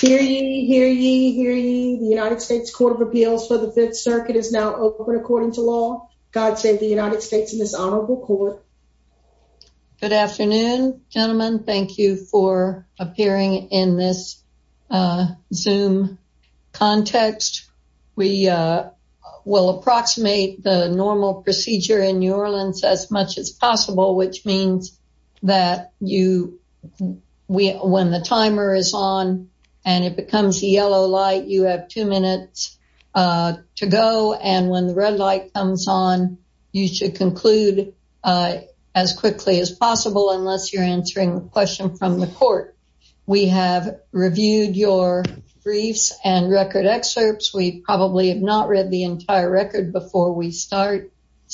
Hear ye, hear ye, hear ye, the United States Court of Appeals for the Fifth Circuit is now open according to law. God save the United States and this honorable court. Good afternoon, gentlemen. Thank you for appearing in this Zoom context. We will approximate the normal procedure in New Orleans as much as possible, which means that when the timer is on and it becomes a yellow light, you have two minutes to go and when the red light comes on, you should conclude as quickly as possible unless you're answering a question from the court. We have reviewed your briefs and record excerpts. We probably have not read the entire record before we start.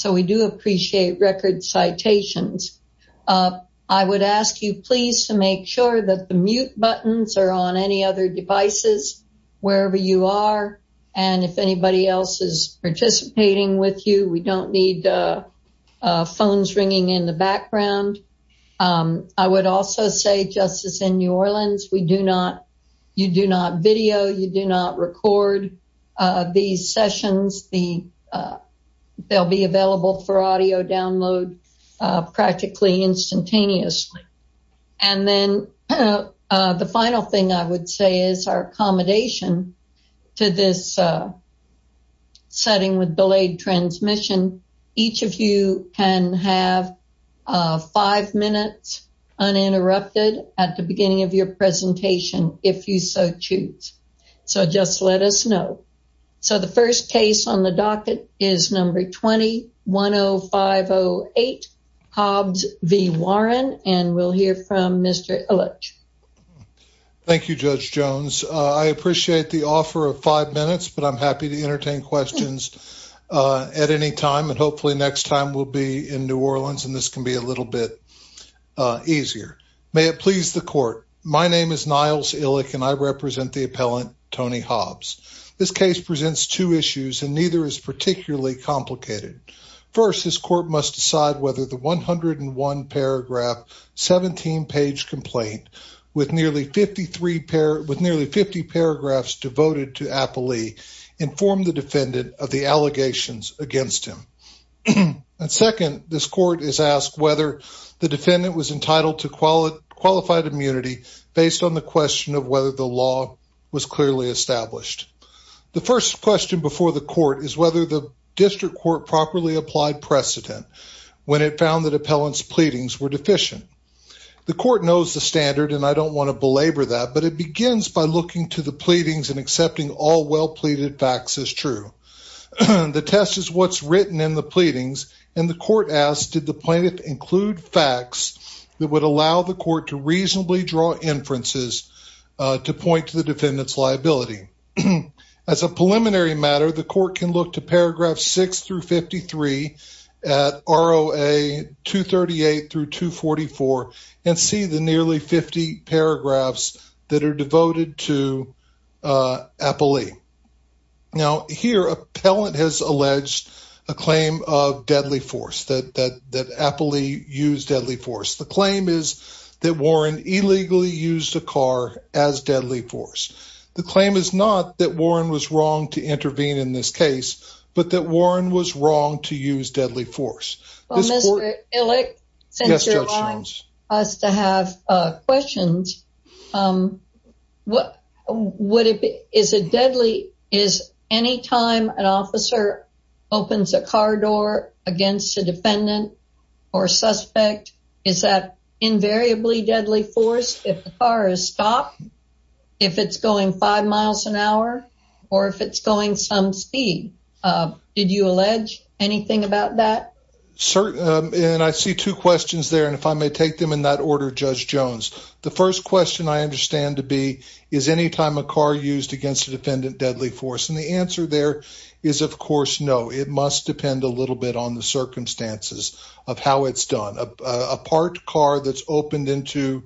We do appreciate record citations. I would ask you please to make sure that the mute buttons are on any other devices, wherever you are, and if anybody else is participating with you, we don't need phones ringing in the background. I would also say, just as in New Orleans, you do not video, you do not record these will be available for audio download practically instantaneously. And then the final thing I would say is our accommodation to this setting with delayed transmission, each of you can have five minutes uninterrupted at the beginning of your presentation if you so choose. So just let us know. So the first case on the docket is number 210508 Hobbs v. Warren and we'll hear from Mr. Illich. Thank you, Judge Jones. I appreciate the offer of five minutes, but I'm happy to entertain questions at any time and hopefully next time we'll be in New Orleans and this can be a little bit easier. May it please the court. My name is Niles Illich and I represent the appellant Tony Hobbs. This case presents two issues and neither is particularly complicated. First, this court must decide whether the 101 paragraph 17 page complaint with nearly 53 pair with nearly 50 paragraphs devoted to appellee informed the defendant of the allegations against him. And second, this court is asked whether the defendant was entitled to qualified immunity based on the question of whether the law was clearly established. The first question before the court is whether the district court properly applied precedent when it found that appellant's pleadings were deficient. The court knows the standard and I don't want to belabor that, but it begins by looking to the pleadings and accepting all well pleaded facts as true. The test is what's written in the pleadings and the court asked did the plaintiff include facts that would allow the court to reasonably draw inferences to point to the defendant's liability. As a preliminary matter, the court can look to paragraph 6 through 53 at ROA 238 through 244 and see the nearly 50 paragraphs that are devoted to appellee. Now here appellant has alleged a claim of deadly force that appellee used deadly force. The claim is that Warren illegally used a car as deadly force. The claim is not that Warren was wrong to intervene in this case, but that Warren was wrong to use deadly force. Well, Mr. Illick, since you're allowing us to have questions, is it deadly, is anytime an officer opens a car door against a defendant or suspect, is that invariably deadly force if the car is stopped, if it's going five miles an hour, or if it's going some speed? Did you allege anything about that? And I see two questions there and if I may take them in that order, Judge Jones. The first question I understand to be is anytime a car used against a defendant deadly force and the answer there is of course no. It must depend a little bit on the circumstances of how it's done. A parked car that's opened into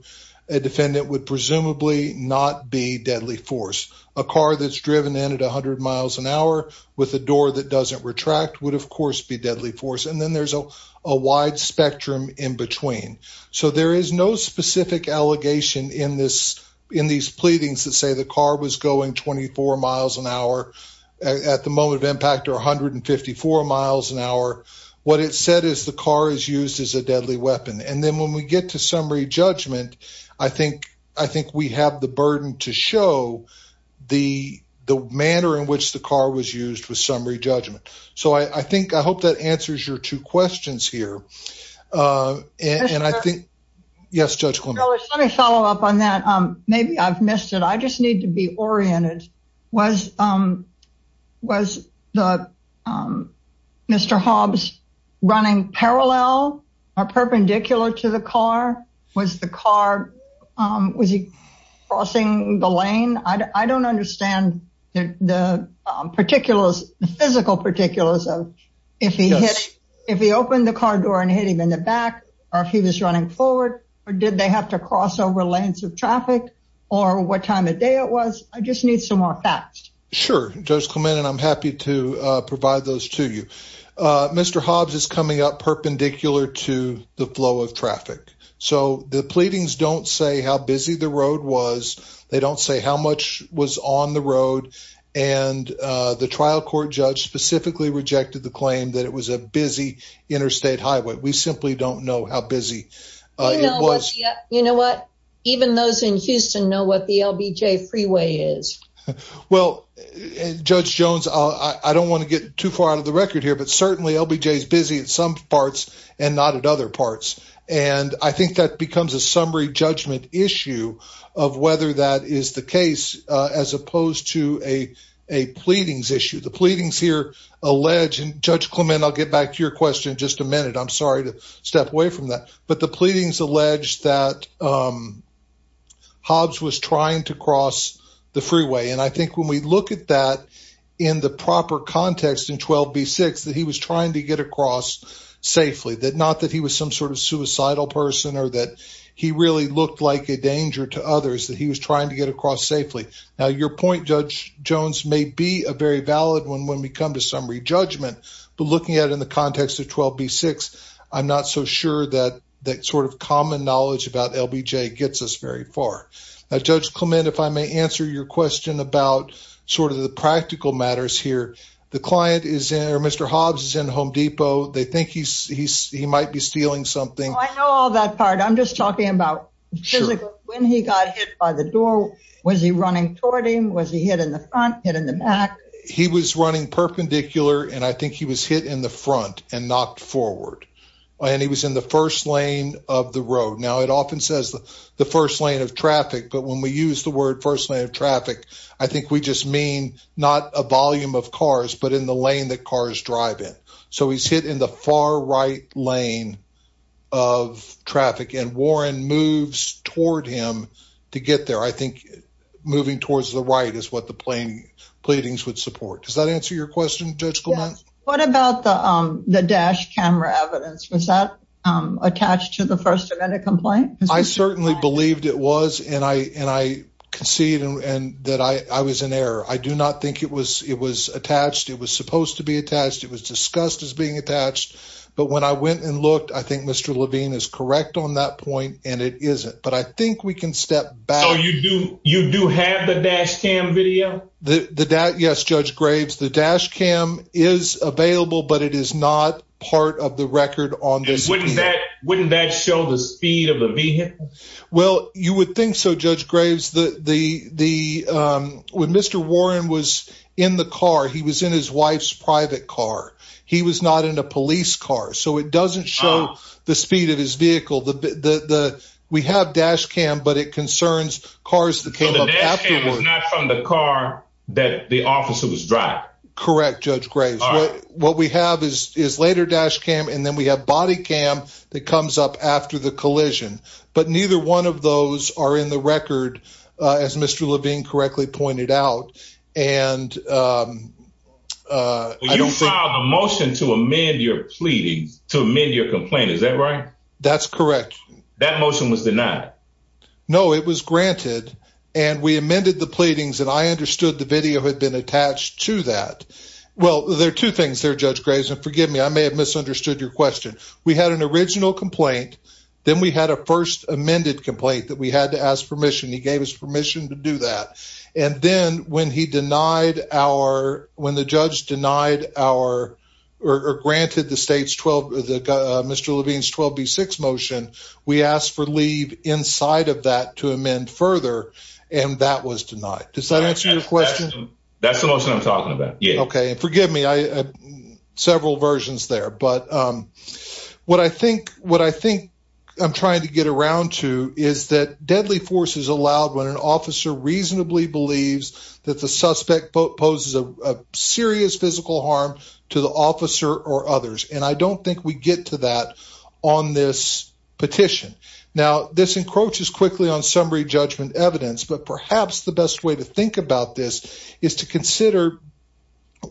a defendant would presumably not be deadly force. A car that's driven in at 100 miles an hour with a door that doesn't retract would of course be deadly force. And then there's a wide spectrum in between. So there is no specific allegation in these pleadings that say the car was going 24 miles an hour at the moment of impact or 154 miles an hour. What it said is the car is used as a deadly weapon. And then when we get to summary judgment, I think we have the burden to show the manner in which the car was used with summary judgment. So I think I hope that answers your two questions here. And I think yes, Judge. Let me follow up on that. Maybe I've missed it. I just need to be oriented. Was the Mr. Hobbs running parallel or perpendicular to the car? Was the car crossing the lane? I don't understand the particulars, the physical particulars of if he opened the car door and hit him in the back or if he was running forward or did they have to cross over lanes of traffic or what time of day it was? I just need some more facts. Sure, Judge Clement. And I'm happy to provide those to you. Mr. Hobbs is coming up perpendicular to the flow of traffic. So the pleadings don't say how busy the road was. They don't say how much was on the road. And the trial court judge specifically rejected the claim that it was a busy interstate highway. We simply don't know how busy it was. You know what? Even those in Houston know what the LBJ freeway is. Well, Judge Jones, I don't want to get too far out of the record here, but certainly LBJ is busy at some parts and not at other parts. And I think that becomes a summary judgment issue of whether that is the case as opposed to a pleadings issue. The pleadings here allege, and Judge Clement, I'll get back to your question in just a minute. I'm sorry to step away from that. But the pleadings allege that Hobbs was trying to cross the freeway. And I think when we look at that in the proper context in 12b6 that he was trying to get safely, that not that he was some sort of suicidal person or that he really looked like a danger to others that he was trying to get across safely. Now, your point, Judge Jones, may be a very valid one when we come to summary judgment. But looking at it in the context of 12b6, I'm not so sure that that sort of common knowledge about LBJ gets us very far. Now, Judge Clement, if I may answer your question about sort of the practical matters here. The client is there. Mr. Hobbs is in Home Depot. They think he might be stealing something. I know all that part. I'm just talking about when he got hit by the door. Was he running toward him? Was he hit in the front? Hit in the back? He was running perpendicular. And I think he was hit in the front and knocked forward. And he was in the first lane of the road. Now, it often says the first lane of traffic. But when we use the word first lane of traffic, I think we just mean not a volume of cars, but in the lane that cars drive in. So he's hit in the far right lane of traffic. And Warren moves toward him to get there. I think moving towards the right is what the pleadings would support. Does that answer your question, Judge Clement? What about the dash camera evidence? Was that attached to the first amendment complaint? I certainly believed it was. And I concede that I was in error. I do not think it was attached. It was supposed to be attached. It was discussed as being attached. But when I went and looked, I think Mr. Levine is correct on that point. And it isn't. But I think we can step back. So you do have the dash cam video? Yes, Judge Graves. The dash cam is available. But it is not part of the record on this video. Wouldn't that show the speed of the vehicle? Well, you would think so, Judge Graves. When Mr. Warren was in the car, he was in his wife's private car. He was not in a police car. So it doesn't show the speed of his vehicle. We have dash cam, but it concerns cars that came up afterwards. So the dash cam is not from the car that the officer was driving? Correct, Judge Graves. What we have is later dash cam. And then we have body cam that comes up after the collision. But neither one of those are in the record, as Mr. Levine correctly pointed out. You filed a motion to amend your pleading, to amend your complaint. Is that right? That's correct. That motion was denied? No, it was granted. And we amended the pleadings. And I understood the video had been attached to that. Well, there are two things there, Judge Graves. And forgive me, I may have misunderstood your question. We had an original complaint. Then we had a first amended complaint that we had to ask permission. He gave us permission to do that. And then when the judge denied or granted Mr. Levine's 12B6 motion, we asked for leave inside of that to amend further. And that was denied. Does that answer your question? That's the motion I'm talking about. Yeah. Okay. And forgive me, I have several versions there. But what I think I'm trying to get around to is that deadly force is allowed when an officer reasonably believes that the suspect poses a serious physical harm to the officer or others. And I don't think we get to that on this petition. Now, this encroaches quickly on summary judgment evidence. But perhaps the best way to think about this is to consider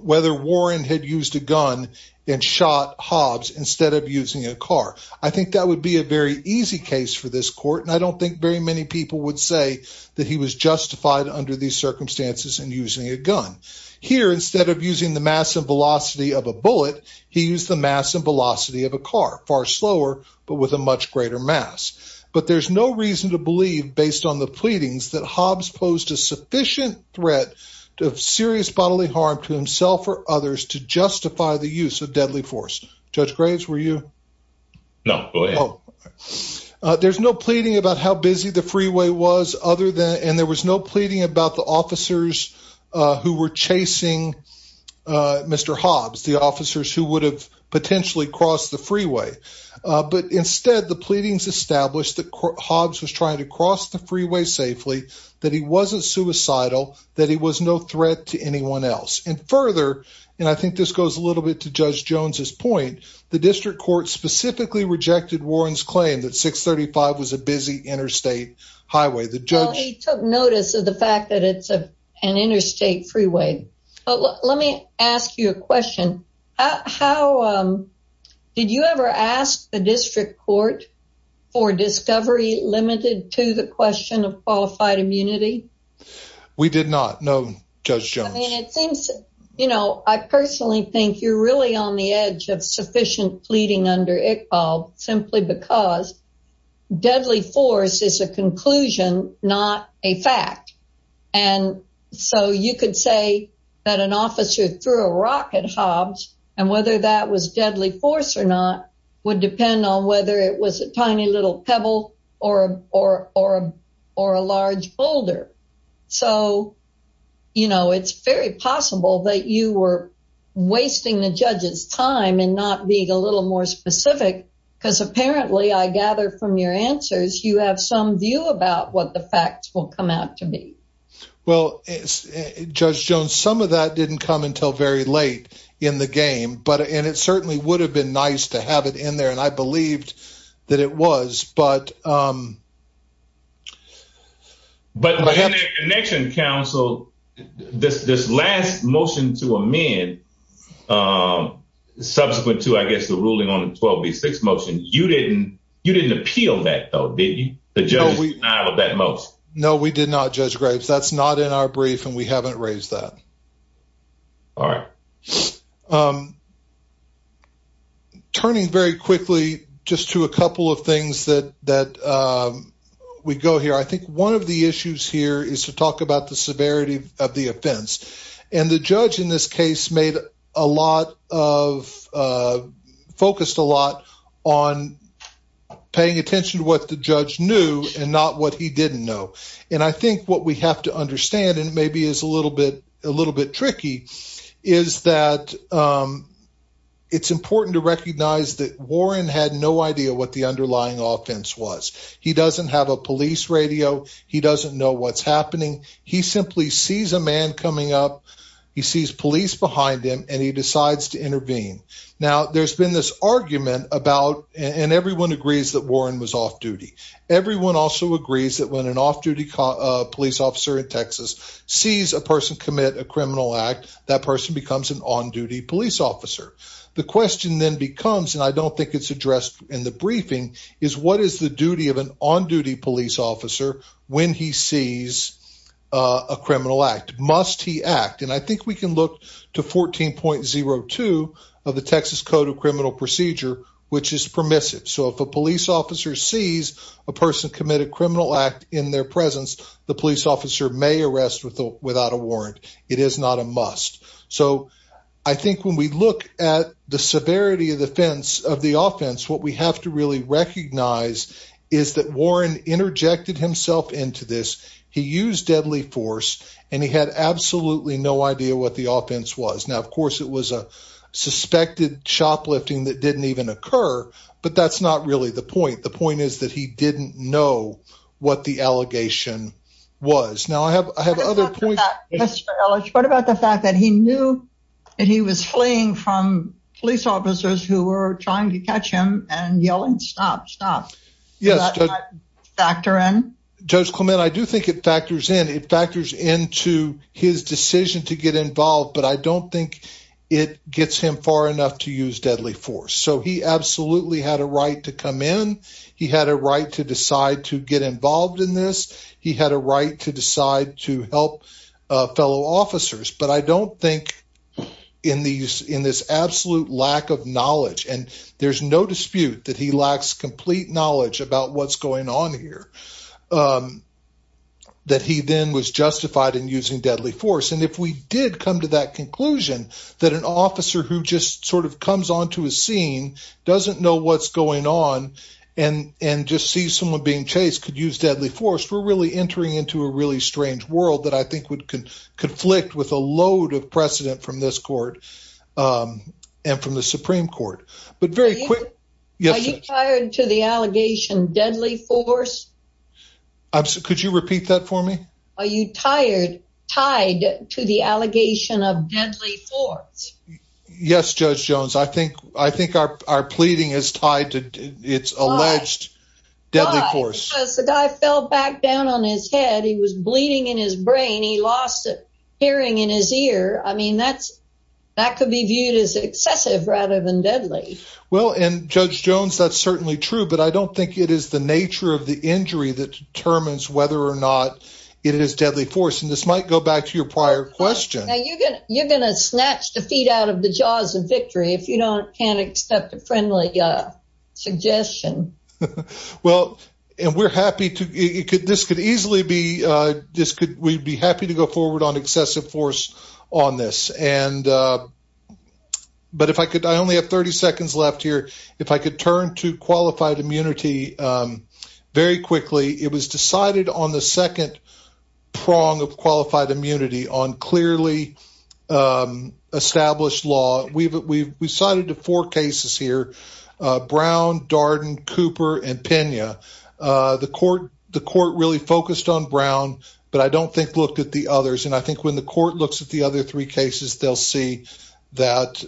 whether Warren had used a gun and shot Hobbs instead of using a car. I think that would be a very easy case for this court. And I don't think very many people would say that he was justified under these circumstances in using a gun. Here, instead of using the mass and velocity of a bullet, he used the mass and velocity of a car, far slower, but with a much greater mass. But there's no reason to believe, based on the pleadings, that Hobbs posed a sufficient threat of serious bodily harm to himself or others to justify the use of deadly force. Judge Graves, were you? No, go ahead. There's no pleading about how busy the freeway was, and there was no pleading about the officers who were chasing Mr. Hobbs, the officers who would have potentially crossed the freeway. But instead, the pleadings established that Hobbs was trying to cross the freeway safely, that he wasn't suicidal, that he was no threat to anyone else. And further, and I think this goes a little bit to Judge Jones's point, the district court specifically rejected Warren's claim that 635 was a busy interstate highway. Well, he took notice of the fact that it's an interstate freeway. Let me ask you a question. How, did you ever ask the district court for discovery limited to the question of qualified immunity? We did not, no, Judge Jones. I mean, it seems, you know, I personally think you're really on the edge of sufficient pleading under Iqbal, simply because deadly force is a conclusion, not a fact. And so you could say that an officer threw a rock at Hobbs, and whether that was deadly force or not, would depend on whether it was a tiny little pebble or a large boulder. So, you know, it's very possible that you were wasting the judge's time in not being a little more specific, because apparently, I gather from your answers, you have some about what the facts will come out to be. Well, Judge Jones, some of that didn't come until very late in the game. But, and it certainly would have been nice to have it in there. And I believed that it was, but. But in the Connection Council, this last motion to amend, subsequent to, I guess, the ruling on the 12B6 motion, you didn't appeal that, though, did you? The judge denied that motion. No, we did not, Judge Graves. That's not in our brief, and we haven't raised that. All right. Turning very quickly, just to a couple of things that we go here, I think one of the issues here is to talk about the severity of the offense. And the judge in this case made a lot of, focused a lot on paying attention to what the judge knew and not what he didn't know. And I think what we have to understand, and maybe is a little bit tricky, is that it's important to recognize that Warren had no idea what the underlying offense was. He doesn't have a police radio. He doesn't know what's happening. He simply sees a man coming up. He sees police behind him, and he decides to intervene. Now, there's been this argument about, and everyone agrees that Warren was off duty. Everyone also agrees that when an off-duty police officer in Texas sees a person commit a criminal act, that person becomes an on-duty police officer. The question then becomes, and I don't think it's addressed in the briefing, is what is the duty of an on-duty police officer when he sees a criminal act? Must he act? And I think we can look to 14.02 of the Texas Code of Criminal Procedure, which is permissive. So if a police officer sees a person commit a criminal act in their presence, the police officer may arrest without a warrant. It is not a must. So I think when we look at the severity of the offense, what we have to really recognize is that Warren interjected himself into this. He used deadly force, and he had absolutely no idea what the offense was. Now, of course, it was a suspected shoplifting that didn't even occur, but that's not really the point. The point is that he didn't know what the allegation was. Now, I have other points. What about the fact that he knew that he was fleeing from police officers who were trying to catch him and yelling, stop, stop? Yes. Factor in? Judge Clement, I do think it factors in. It factors into his decision to get involved, but I don't think it gets him far enough to use deadly force. So he absolutely had a right to come in. He had a right to decide to get involved in this. He had a right to decide to help fellow officers. But I don't think in this absolute lack of knowledge, and there's no dispute that he knew what's going on here, that he then was justified in using deadly force. And if we did come to that conclusion that an officer who just sort of comes onto a scene doesn't know what's going on and just sees someone being chased could use deadly force, we're really entering into a really strange world that I think would conflict with a load of precedent from this court and from the Supreme Court. But very quick. Are you tired to the allegation deadly force? Could you repeat that for me? Are you tired, tied to the allegation of deadly force? Yes, Judge Jones. I think our pleading is tied to its alleged deadly force. Because the guy fell back down on his head. He was bleeding in his brain. He lost hearing in his ear. I mean, that could be viewed as excessive rather than deadly. Well, and Judge Jones, that's certainly true. But I don't think it is the nature of the injury that determines whether or not it is deadly force. And this might go back to your prior question. You're going to snatch the feet out of the jaws of victory if you can't accept a friendly suggestion. Well, and we're happy to, this could easily be, we'd be happy to go forward on excessive force on this. And but if I could, I only have 30 seconds left here. If I could turn to qualified immunity very quickly. It was decided on the second prong of qualified immunity on clearly established law. We've cited four cases here. Brown, Darden, Cooper and Pena. The court really focused on Brown, but I don't think looked at the others. And I think when the court looks at the other three cases, they'll see that.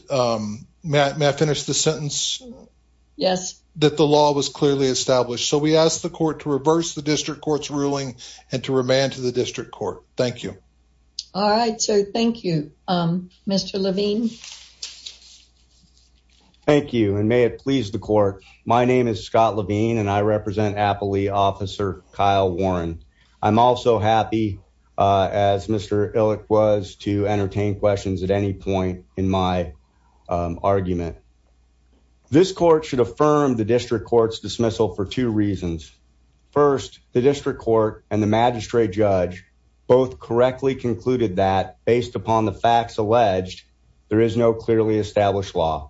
May I finish the sentence? Yes. That the law was clearly established. So we asked the court to reverse the district court's ruling and to remand to the district court. Thank you. All right. So thank you, Mr. Levine. Thank you. And may it please the court. My name is Scott Levine, and I represent Appali officer Kyle Warren. I'm also happy as Mr. Illick was to entertain questions at any point in my argument. This court should affirm the district court's dismissal for two reasons. First, the district court and the magistrate judge both correctly concluded that based upon the facts alleged, there is no clearly established law.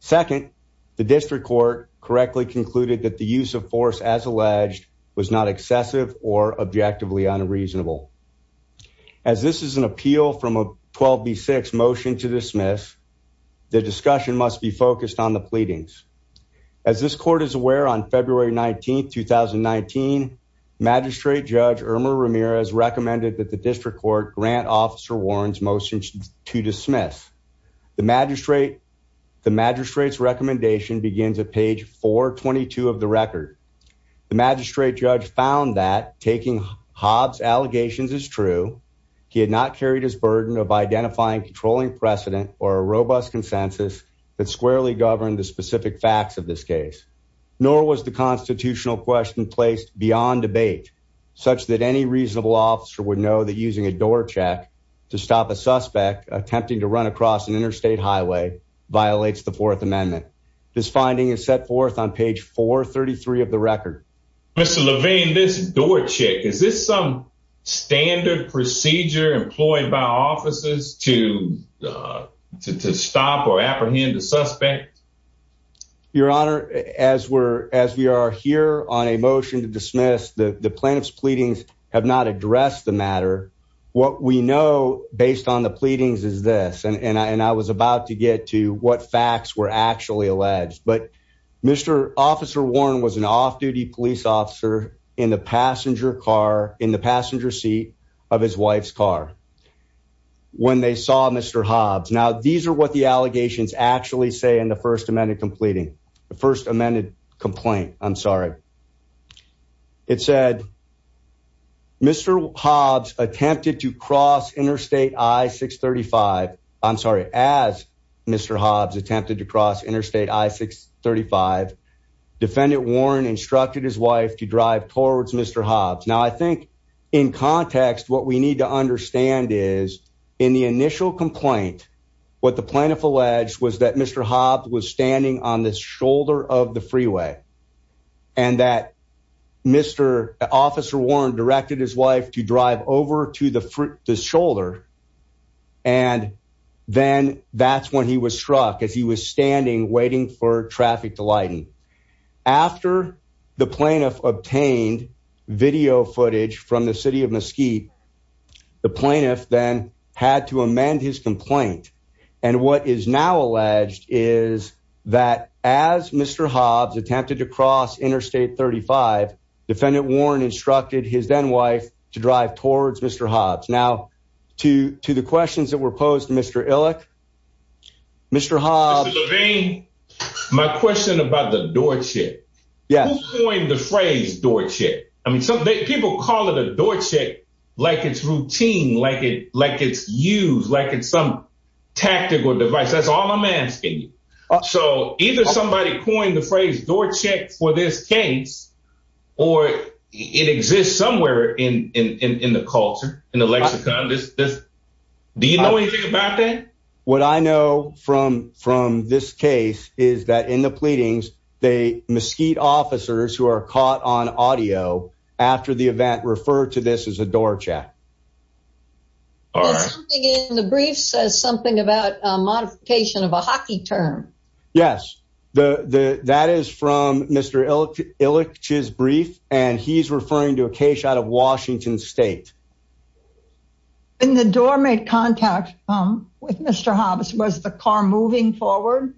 Second, the district court correctly concluded that the use of force as alleged was not excessive or objectively unreasonable. As this is an appeal from a 12B6 motion to dismiss, the discussion must be focused on the pleadings. As this court is aware on February 19th, 2019, magistrate judge Irma Ramirez recommended that the district court grant officer Warren's motion to dismiss. The magistrate's recommendation begins at page 422 of the record. The magistrate judge found that taking Hobbs allegations is true. He had not carried his burden of identifying controlling precedent or a robust consensus that squarely governed the specific facts of this case. Nor was the constitutional question placed beyond debate such that any reasonable officer would know that using a door check to stop a suspect attempting to run across an interstate highway violates the fourth amendment. This finding is set forth on page 433 of the record. Mr. Levine, this door check, is this some standard procedure employed by officers to stop or apprehend a suspect? Your honor, as we are here on a motion to dismiss, the plaintiff's pleadings have not addressed the matter. What we know based on the pleadings is this, and I was about to get to what facts were actually alleged. But Mr. Officer Warren was an off-duty police officer in the passenger car, in the passenger seat of his wife's car when they saw Mr. Hobbs. Now, these are what the allegations actually say in the first amended completing, the first amended complaint. I'm sorry. It said Mr. Hobbs attempted to cross interstate I-635. I'm sorry, as Mr. Hobbs attempted to cross interstate I-635, defendant Warren instructed his wife to drive towards Mr. Hobbs. Now, I think in context, what we need to understand is in the initial complaint, what the plaintiff alleged was that Mr. Hobbs was standing on the shoulder of the freeway and that Mr. Officer Warren directed his wife to drive over to the shoulder. And then that's when he was struck as he was standing waiting for traffic to lighten. After the plaintiff obtained video footage from the city of Mesquite, the plaintiff then had to amend his complaint. And what is now alleged is that as Mr. Hobbs attempted to cross interstate I-635, defendant Warren instructed his then wife to drive towards Mr. Hobbs. Now, to the questions that were posed to Mr. Illick, Mr. Hobbs- Mr. Levine, my question about the door check. Yes. Who coined the phrase door check? I mean, people call it a door check like it's routine, like it's used, like it's some tactical device. That's all I'm asking you. So either somebody coined the phrase door check for this case or it exists somewhere in the culture, in the lexicon. Do you know anything about that? What I know from this case is that in the pleadings, the Mesquite officers who are caught on audio after the event referred to this as a door check. All right. The brief says something about a modification of a hockey term. Yes, that is from Mr. Illick's brief, and he's referring to a case out of Washington State. When the door made contact with Mr. Hobbs, was the car moving forward?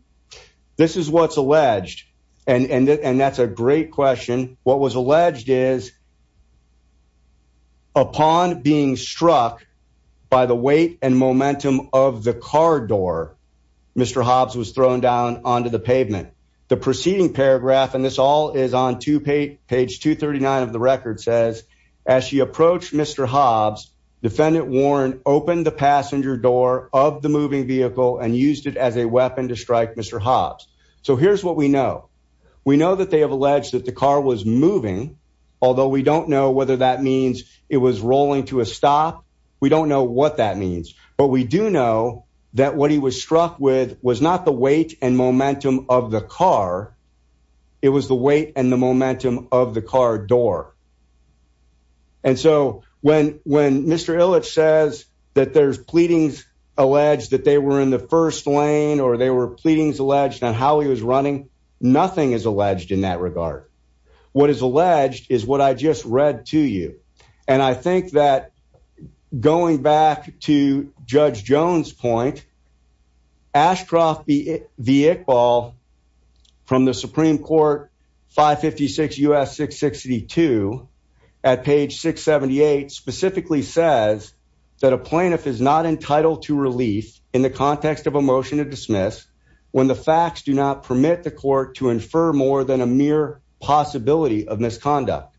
This is what's alleged, and that's a great question. What was alleged is upon being struck by the weight and momentum of the car door, Mr. Hobbs was thrown down onto the pavement. The preceding paragraph, and this all is on page 239 of the record, says as she approached Mr. Hobbs, Defendant Warren opened the passenger door of the moving vehicle and used it as a weapon to strike Mr. Hobbs. So here's what we know. We know that they have alleged that the car was moving, although we don't know whether that means it was rolling to a stop. We don't know what that means, but we do know that what he was struck with was not the weight and momentum of the car, it was the weight and the momentum of the car door. And so when Mr. Illick says that there's pleadings alleged that they were in the first lane or they were pleadings alleged on how he was running, nothing is alleged in that regard. What is alleged is what I just read to you. And I think that going back to Judge Jones' point, Ashcroft v. Iqbal from the Supreme Court 556 U.S. 662 at page 678 specifically says that a plaintiff is not entitled to relief in the context of a motion to dismiss when the facts do not permit the court to infer more than a mere possibility of misconduct.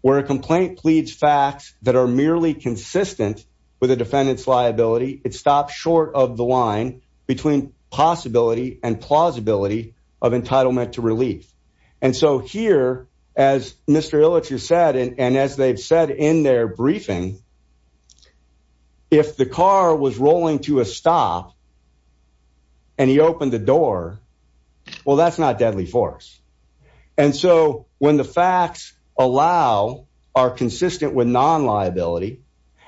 Where a complaint pleads facts that are merely consistent with a defendant's liability, it stops short of the line between possibility and plausibility of entitlement to relief. And so here, as Mr. Illick has said, and as they've said in their briefing, if the car was rolling to a stop and he opened the door, well, that's not deadly force. And so when the facts allow are consistent with non-liability,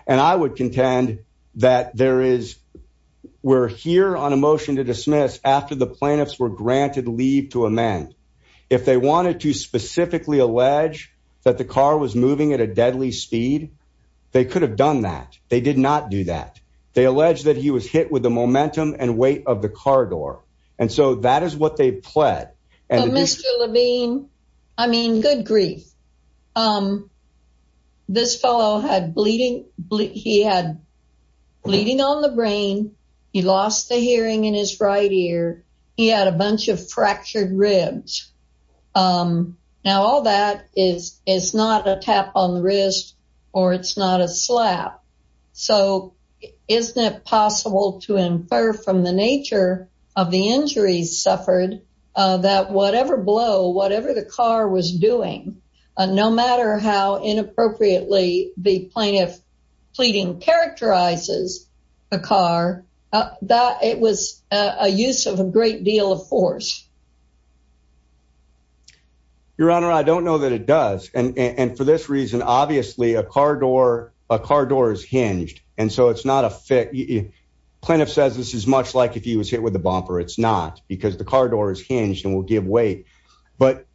and I would contend that there is, we're here on a motion to dismiss after the plaintiffs were granted leave to amend, if they wanted to specifically allege that the car was moving at a deadly speed, they could have done that. They did not do that. They allege that he was hit with the momentum and weight of the car door. And so that is what they pled. Mr. Levine, I mean, good grief. This fellow had bleeding, he had bleeding on the brain. He lost the hearing in his right ear. He had a bunch of fractured ribs. Now, all that is not a tap on the wrist or it's not a slap. So isn't it possible to infer from the nature of the injuries suffered that whatever blow, whatever the car was doing, no matter how inappropriately the plaintiff pleading characterizes the car, that it was a use of a great deal of force. Your Honor, I don't know that it does. And for this reason, obviously a car door, a car door is hinged. And so it's not a fit. Plaintiff says this is much like if he was hit with a bumper. It's not because the car door is hinged and will give weight. But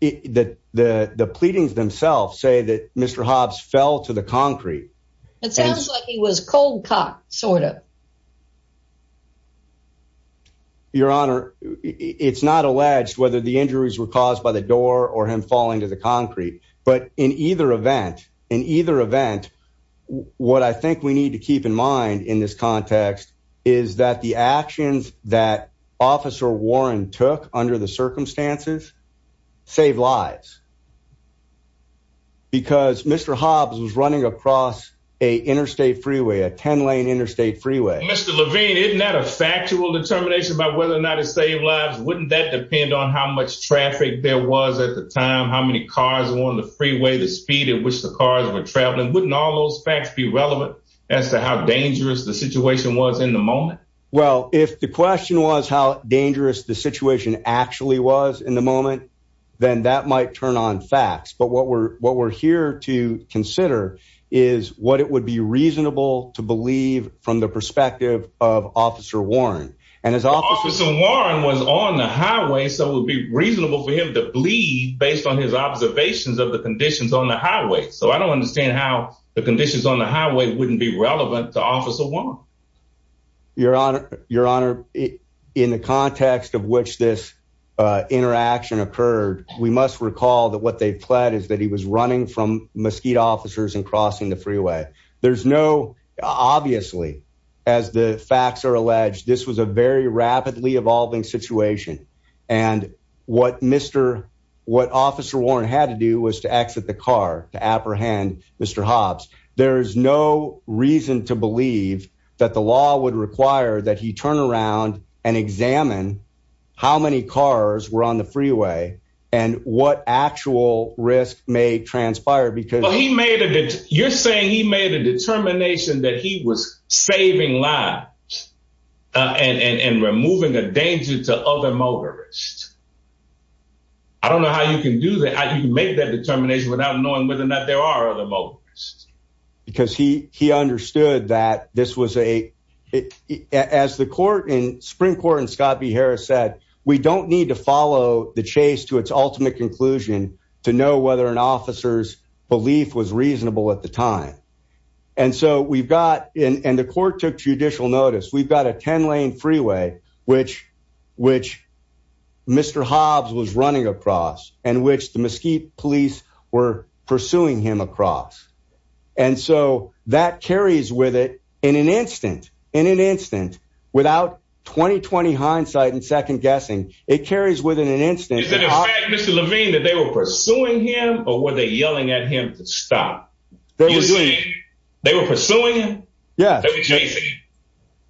the pleadings themselves say that Mr. Hobbs fell to the concrete. It sounds like he was cold cut, sort of. Your Honor, it's not alleged whether the injuries were caused by the door or him falling to the concrete. But in either event, in either event, what I think we need to keep in mind in this context is that the actions that Officer Warren took under the circumstances save lives. Because Mr. Hobbs was running across a interstate freeway, a 10 lane interstate freeway. Mr. Levine, isn't that a factual determination about whether or not it saved lives? Wouldn't that depend on how much traffic there was at the time? How many cars were on the freeway? The speed at which the cars were traveling? Wouldn't all those facts be relevant as to how dangerous the situation was in the moment? Well, if the question was how dangerous the situation actually was in the moment, then that might turn on facts. But what we're what we're here to consider is what it would be reasonable to believe from the perspective of Officer Warren. And as Officer Warren was on the highway, so it would be reasonable for him to bleed based on his observations of the conditions on the highway. So I don't understand how the conditions on the highway wouldn't be relevant to Officer Warren. Your Honor, in the context of which this interaction occurred, we must recall that what they pled is that he was running from Mesquite officers and crossing the freeway. There's no obviously, as the facts are alleged, this was a very rapidly evolving situation. And what Mr. What Officer Warren had to do was to exit the car to apprehend Mr. Hobbs. There is no reason to believe that the law would require that he turn around and examine how many cars were on the freeway and what actual risk may transpire because he made it. You're saying he made a determination that he was saving lives and removing a danger to other motorists. I don't know how you can do that. I didn't make that determination without knowing whether or not there are other motorists. Because he he understood that this was a as the court in Supreme Court and Scott B. Harris said, we don't need to follow the chase to its ultimate conclusion to know whether an officer's belief was reasonable at the time. And so we've got in and the court took judicial notice. We've got a 10 lane freeway, which which Mr. Hobbs was running across and which the Mesquite police were pursuing him across. And so that carries with it in an instant, in an instant, without 20, 20 hindsight and second guessing, it carries within an instant. Mr. Levine, that they were pursuing him or were they yelling at him to stop? They were pursuing him. Yeah.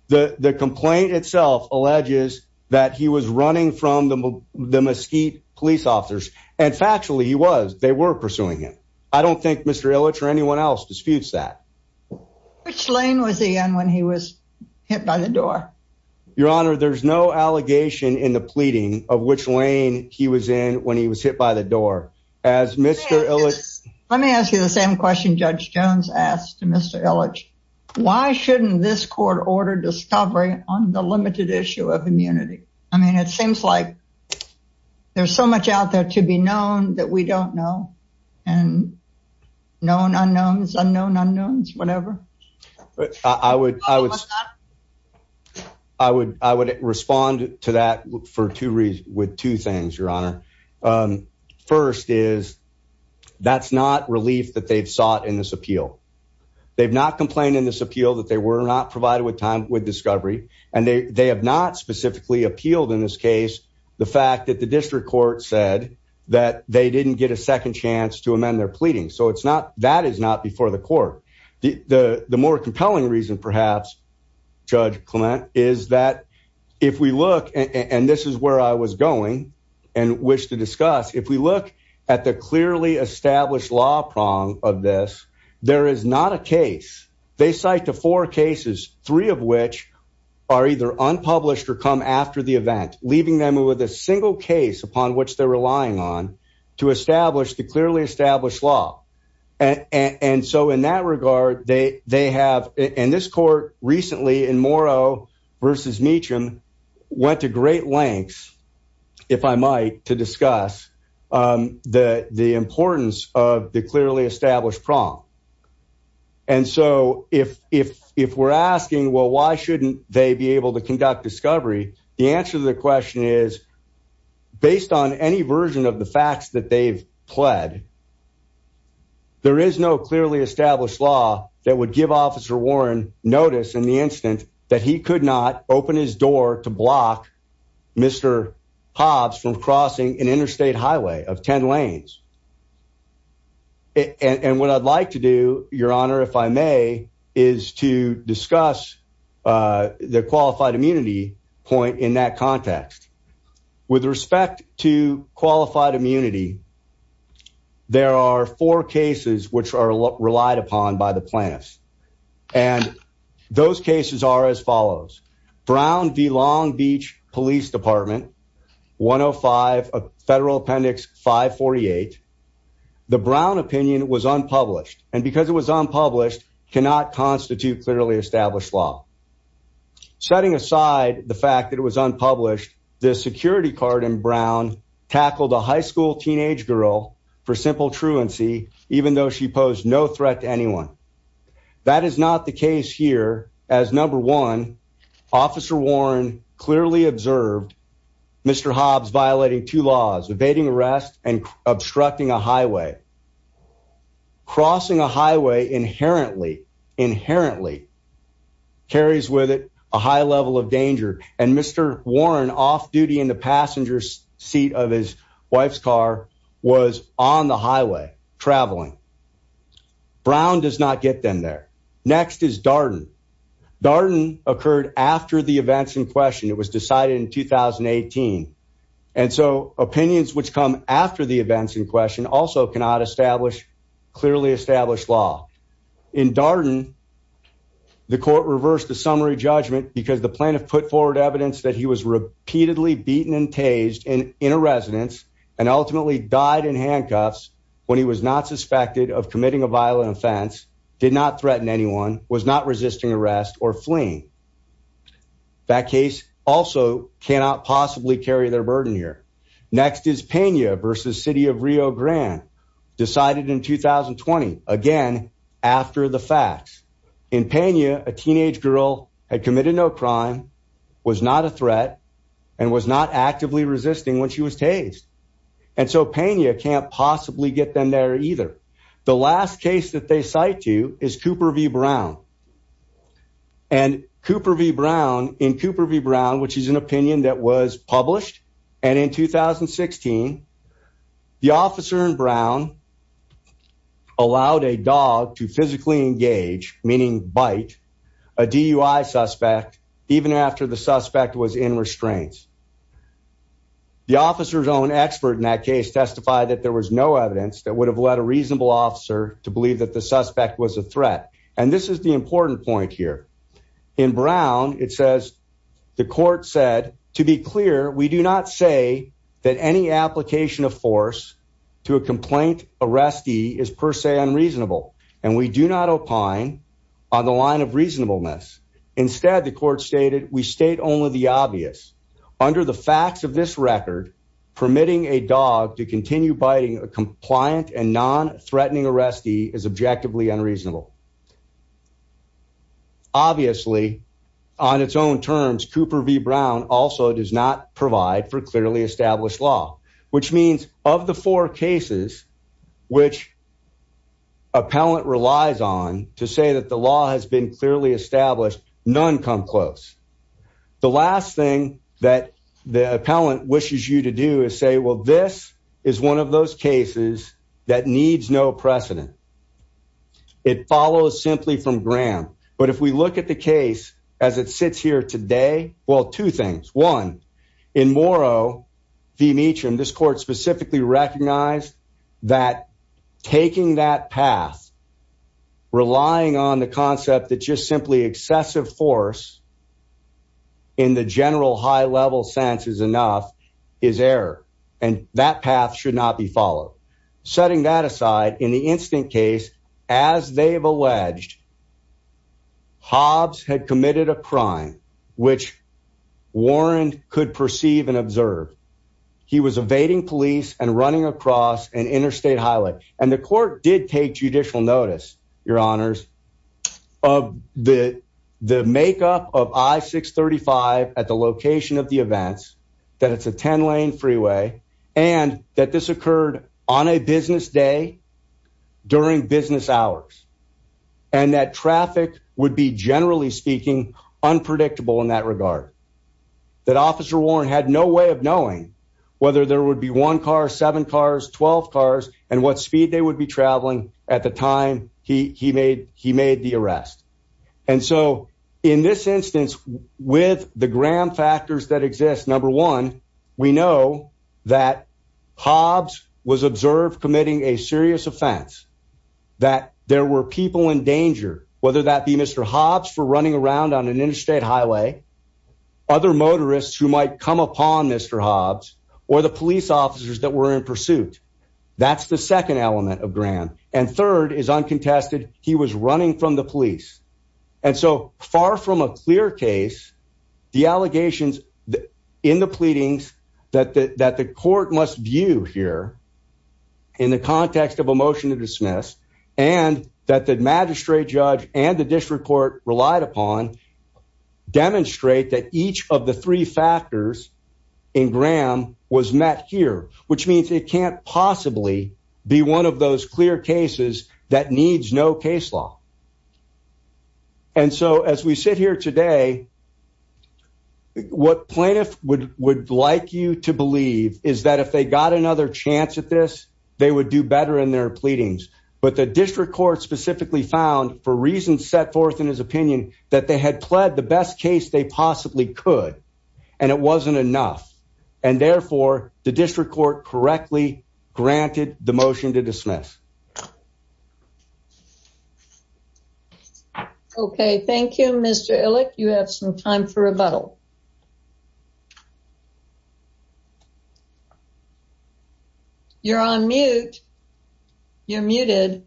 The complaint itself alleges that he was running from the Mesquite police officers. And factually, he was they were pursuing him. I don't think Mr. Illich or anyone else disputes that. Which lane was he on when he was hit by the door? Your Honor, there's no allegation in the pleading of which lane he was in when he was hit by the door. As Mr. Illich. Let me ask you the same question Judge Jones asked Mr. Illich. Why shouldn't this court order discovery on the limited issue of immunity? I mean, it seems like there's so much out there to be known that we don't know. And known unknowns, unknown unknowns, whenever. I would respond to that for two reasons, with two things, Your Honor. First is that's not relief that they've sought in this appeal. They've not complained in this appeal that they were not provided with time with discovery. And they have not specifically appealed in this case the fact that the district court said that they didn't get a second chance to amend their pleading. So it's not that is not before the court. The more compelling reason, perhaps, Judge Clement, is that if we look and this is where I was going and wish to discuss, if we look at the clearly established law prong of this, there is not a case. They cite the four cases, three of which are either unpublished or come after the event, leaving them with a single case upon which they're relying on to establish the clearly established law. And so in that regard, they have in this court recently in Morrow versus Meacham went to great lengths, if I might, to discuss the importance of the clearly established prong. And so if we're asking, well, why shouldn't they be able to conduct discovery? The answer to the based on any version of the facts that they've pled. There is no clearly established law that would give Officer Warren notice in the instant that he could not open his door to block Mr. Hobbs from crossing an interstate highway of 10 lanes. And what I'd like to do, Your Honor, if I may, is to discuss the qualified immunity point in that context. With respect to qualified immunity, there are four cases which are relied upon by the plaintiffs. And those cases are as follows. Brown v. Long Beach Police Department, 105 Federal Appendix 548. The Brown opinion was unpublished. And because it was unpublished, cannot constitute clearly established law. Setting aside the fact that it was unpublished, the security card in Brown tackled a high school teenage girl for simple truancy, even though she posed no threat to anyone. That is not the case here. As number one, Officer Warren clearly observed Mr. Hobbs violating two laws, evading arrest and inherently carries with it a high level of danger. And Mr. Warren, off duty in the passenger seat of his wife's car, was on the highway traveling. Brown does not get them there. Next is Darden. Darden occurred after the events in question. It was decided in 2018. And so opinions which come after the events in question also cannot establish clearly established law. In Darden, the court reversed the summary judgment because the plaintiff put forward evidence that he was repeatedly beaten and tased in a residence and ultimately died in handcuffs when he was not suspected of committing a violent offense, did not threaten anyone, was not resisting arrest or fleeing. That case also cannot possibly carry their burden here. Next is Pena versus City of Rio Grande, decided in 2020, again, after the facts. In Pena, a teenage girl had committed no crime, was not a threat, and was not actively resisting when she was tased. And so Pena can't possibly get them there either. The last case that they cite to is Cooper v. Brown. And Cooper v. Brown, in Cooper v. Brown, which is an opinion that was published, and in 2016, the officer in Brown allowed a dog to physically engage, meaning bite, a DUI suspect, even after the suspect was in would have led a reasonable officer to believe that the suspect was a threat. And this is the important point here. In Brown, it says, the court said, to be clear, we do not say that any application of force to a complaint arrestee is per se unreasonable, and we do not opine on the line of reasonableness. Instead, the court stated, we state only the obvious. Under the facts of this record, permitting a dog to continue biting a compliant and non-threatening arrestee is objectively unreasonable. Obviously, on its own terms, Cooper v. Brown also does not provide for clearly established law, which means of the four cases which appellant relies on to say that the law has been clearly established, none come close. The last thing that the appellant wishes you to do is say, well, this is one of those cases that needs no precedent. It follows simply from Graham. But if we look at the case as it sits here today, well, two things. One, in Morrow v. Meacham, this court specifically recognized that taking that path, relying on the concept that just excessive force in the general high-level sense is enough, is error, and that path should not be followed. Setting that aside, in the instant case, as they have alleged, Hobbs had committed a crime which Warren could perceive and observe. He was evading police and running across an interstate highway. And the court did take judicial notice, your honors, of the makeup of I-635 at the location of the events, that it's a 10-lane freeway, and that this occurred on a business day during business hours, and that traffic would be, generally speaking, unpredictable in that regard. That Officer Warren had no way of knowing whether there would be one car, seven cars, 12 cars, and what speed they would be traveling at the time he made the arrest. And so, in this instance, with the Graham factors that exist, number one, we know that Hobbs was observed committing a serious offense, that there were people in danger, whether that be Mr. Hobbs for running around on an interstate highway, other motorists who might come upon Mr. Hobbs, or the police officers that were in pursuit. That's the second test that he was running from the police. And so, far from a clear case, the allegations in the pleadings that the court must view here, in the context of a motion to dismiss, and that the magistrate judge and the district court relied upon, demonstrate that each of the three factors in Graham was met here, which means it can't possibly be one of those clear cases that needs no case law. And so, as we sit here today, what plaintiffs would like you to believe is that if they got another chance at this, they would do better in their pleadings. But the district court specifically found, for reasons set forth in his opinion, that they had pled the best case they possibly could, and it wasn't enough. And therefore, the district court correctly granted the motion to dismiss. Okay. Thank you, Mr. Illick. You have some time for rebuttal. You're on mute. You're muted.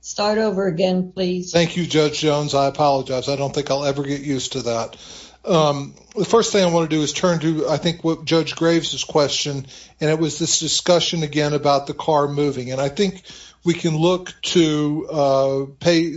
Start over again, please. Thank you, Judge Jones. I apologize. I don't think I'll ever get used to that. The first thing I want to do is turn to, I think, Judge Graves' question, and it was this discussion, again, about the car moving. And I think we can look to ROA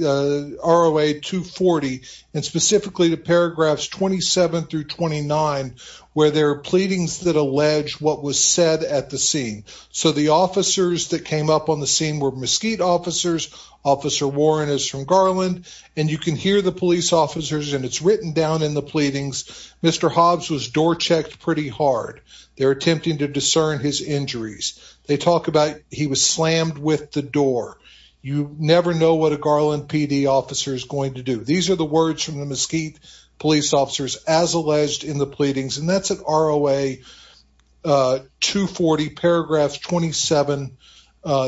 240, and specifically to paragraphs 27 through 29, where there are pleadings that allege what was said at the scene. So, the officers that came up on the scene were Mesquite officers, Officer Warren is from Garland, and you can hear the police officers, and it's written down in the pleadings, Mr. Hobbs was door-checked pretty hard. They're attempting to discern his injuries. They talk about he was slammed with the door. You never know what a Garland PD officer is going to do. These are the words from the Mesquite police officers, as alleged in the pleadings, and that's at ROA 240, paragraphs 27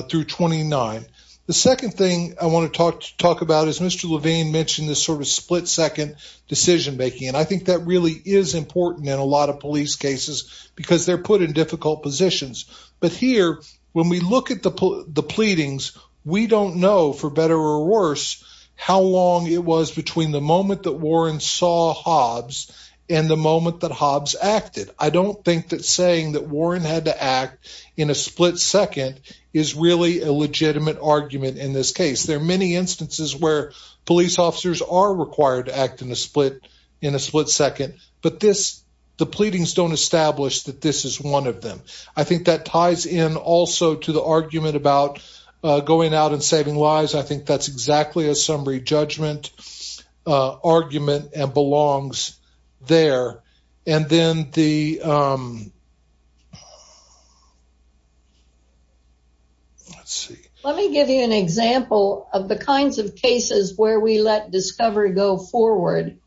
through 29. The second thing I want to talk about is Mr. Levine mentioned split-second decision-making, and I think that really is important in a lot of police cases because they're put in difficult positions. But here, when we look at the pleadings, we don't know, for better or worse, how long it was between the moment that Warren saw Hobbs and the moment that Hobbs acted. I don't think that saying that Warren had to act in a split second is really a legitimate argument in this case. There are many instances where police officers are required to act in a split second, but the pleadings don't establish that this is one of them. I think that ties in also to the argument about going out and saving lives. I think that's exactly a summary judgment argument and belongs there. And then the... go forward,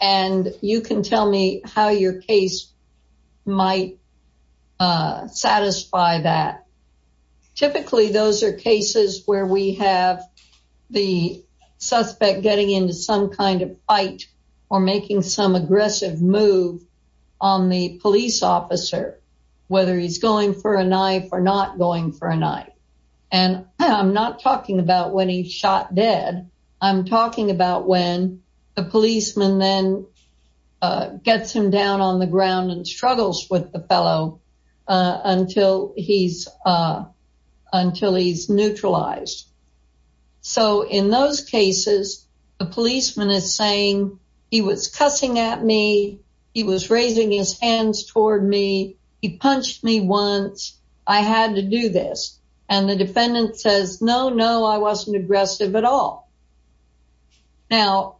and you can tell me how your case might satisfy that. Typically, those are cases where we have the suspect getting into some kind of fight or making some aggressive move on the police officer, whether he's going for a knife or not going for a knife. And I'm not talking about when he shot dead. I'm talking about when the policeman then gets him down on the ground and struggles with the fellow until he's neutralized. So in those cases, the policeman is saying, he was cussing at me. He was raising his hands toward me. He punched me once. I had to do this. And the defendant says, no, no, I wasn't aggressive at all. Now,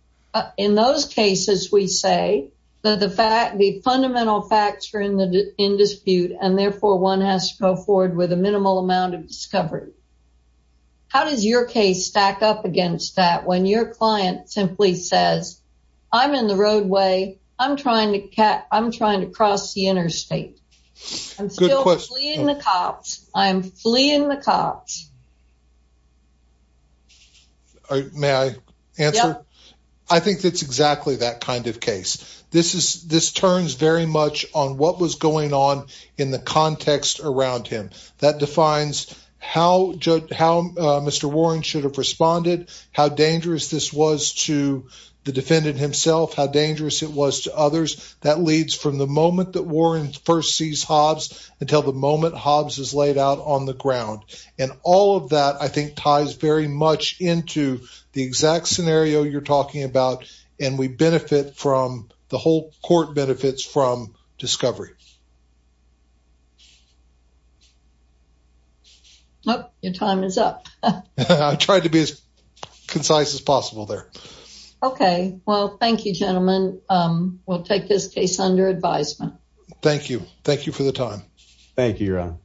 in those cases, we say that the fact the fundamental facts are in dispute, and therefore one has to go forward with a minimal amount of discovery. How does your case stack up against that when your client simply says, I'm in the roadway, I'm trying to cross the interstate? I'm still fleeing the cops. I'm fleeing the cops. May I answer? I think that's exactly that kind of case. This turns very much on what was going on in the context around him. That defines how Mr. Warren should have responded, how dangerous this was to the defendant himself, how dangerous it was to others. That leads from the moment that Warren first sees Hobbs, until the moment Hobbs is laid out on the ground. And all of that, I think ties very much into the exact scenario you're talking about. And we benefit from the whole court benefits from discovery. Oh, your time is up. I tried to be as concise as possible there. Okay. Well, thank you, gentlemen. We'll take this case under advisement. Thank you. Thank you for the time. Thank you, Ron.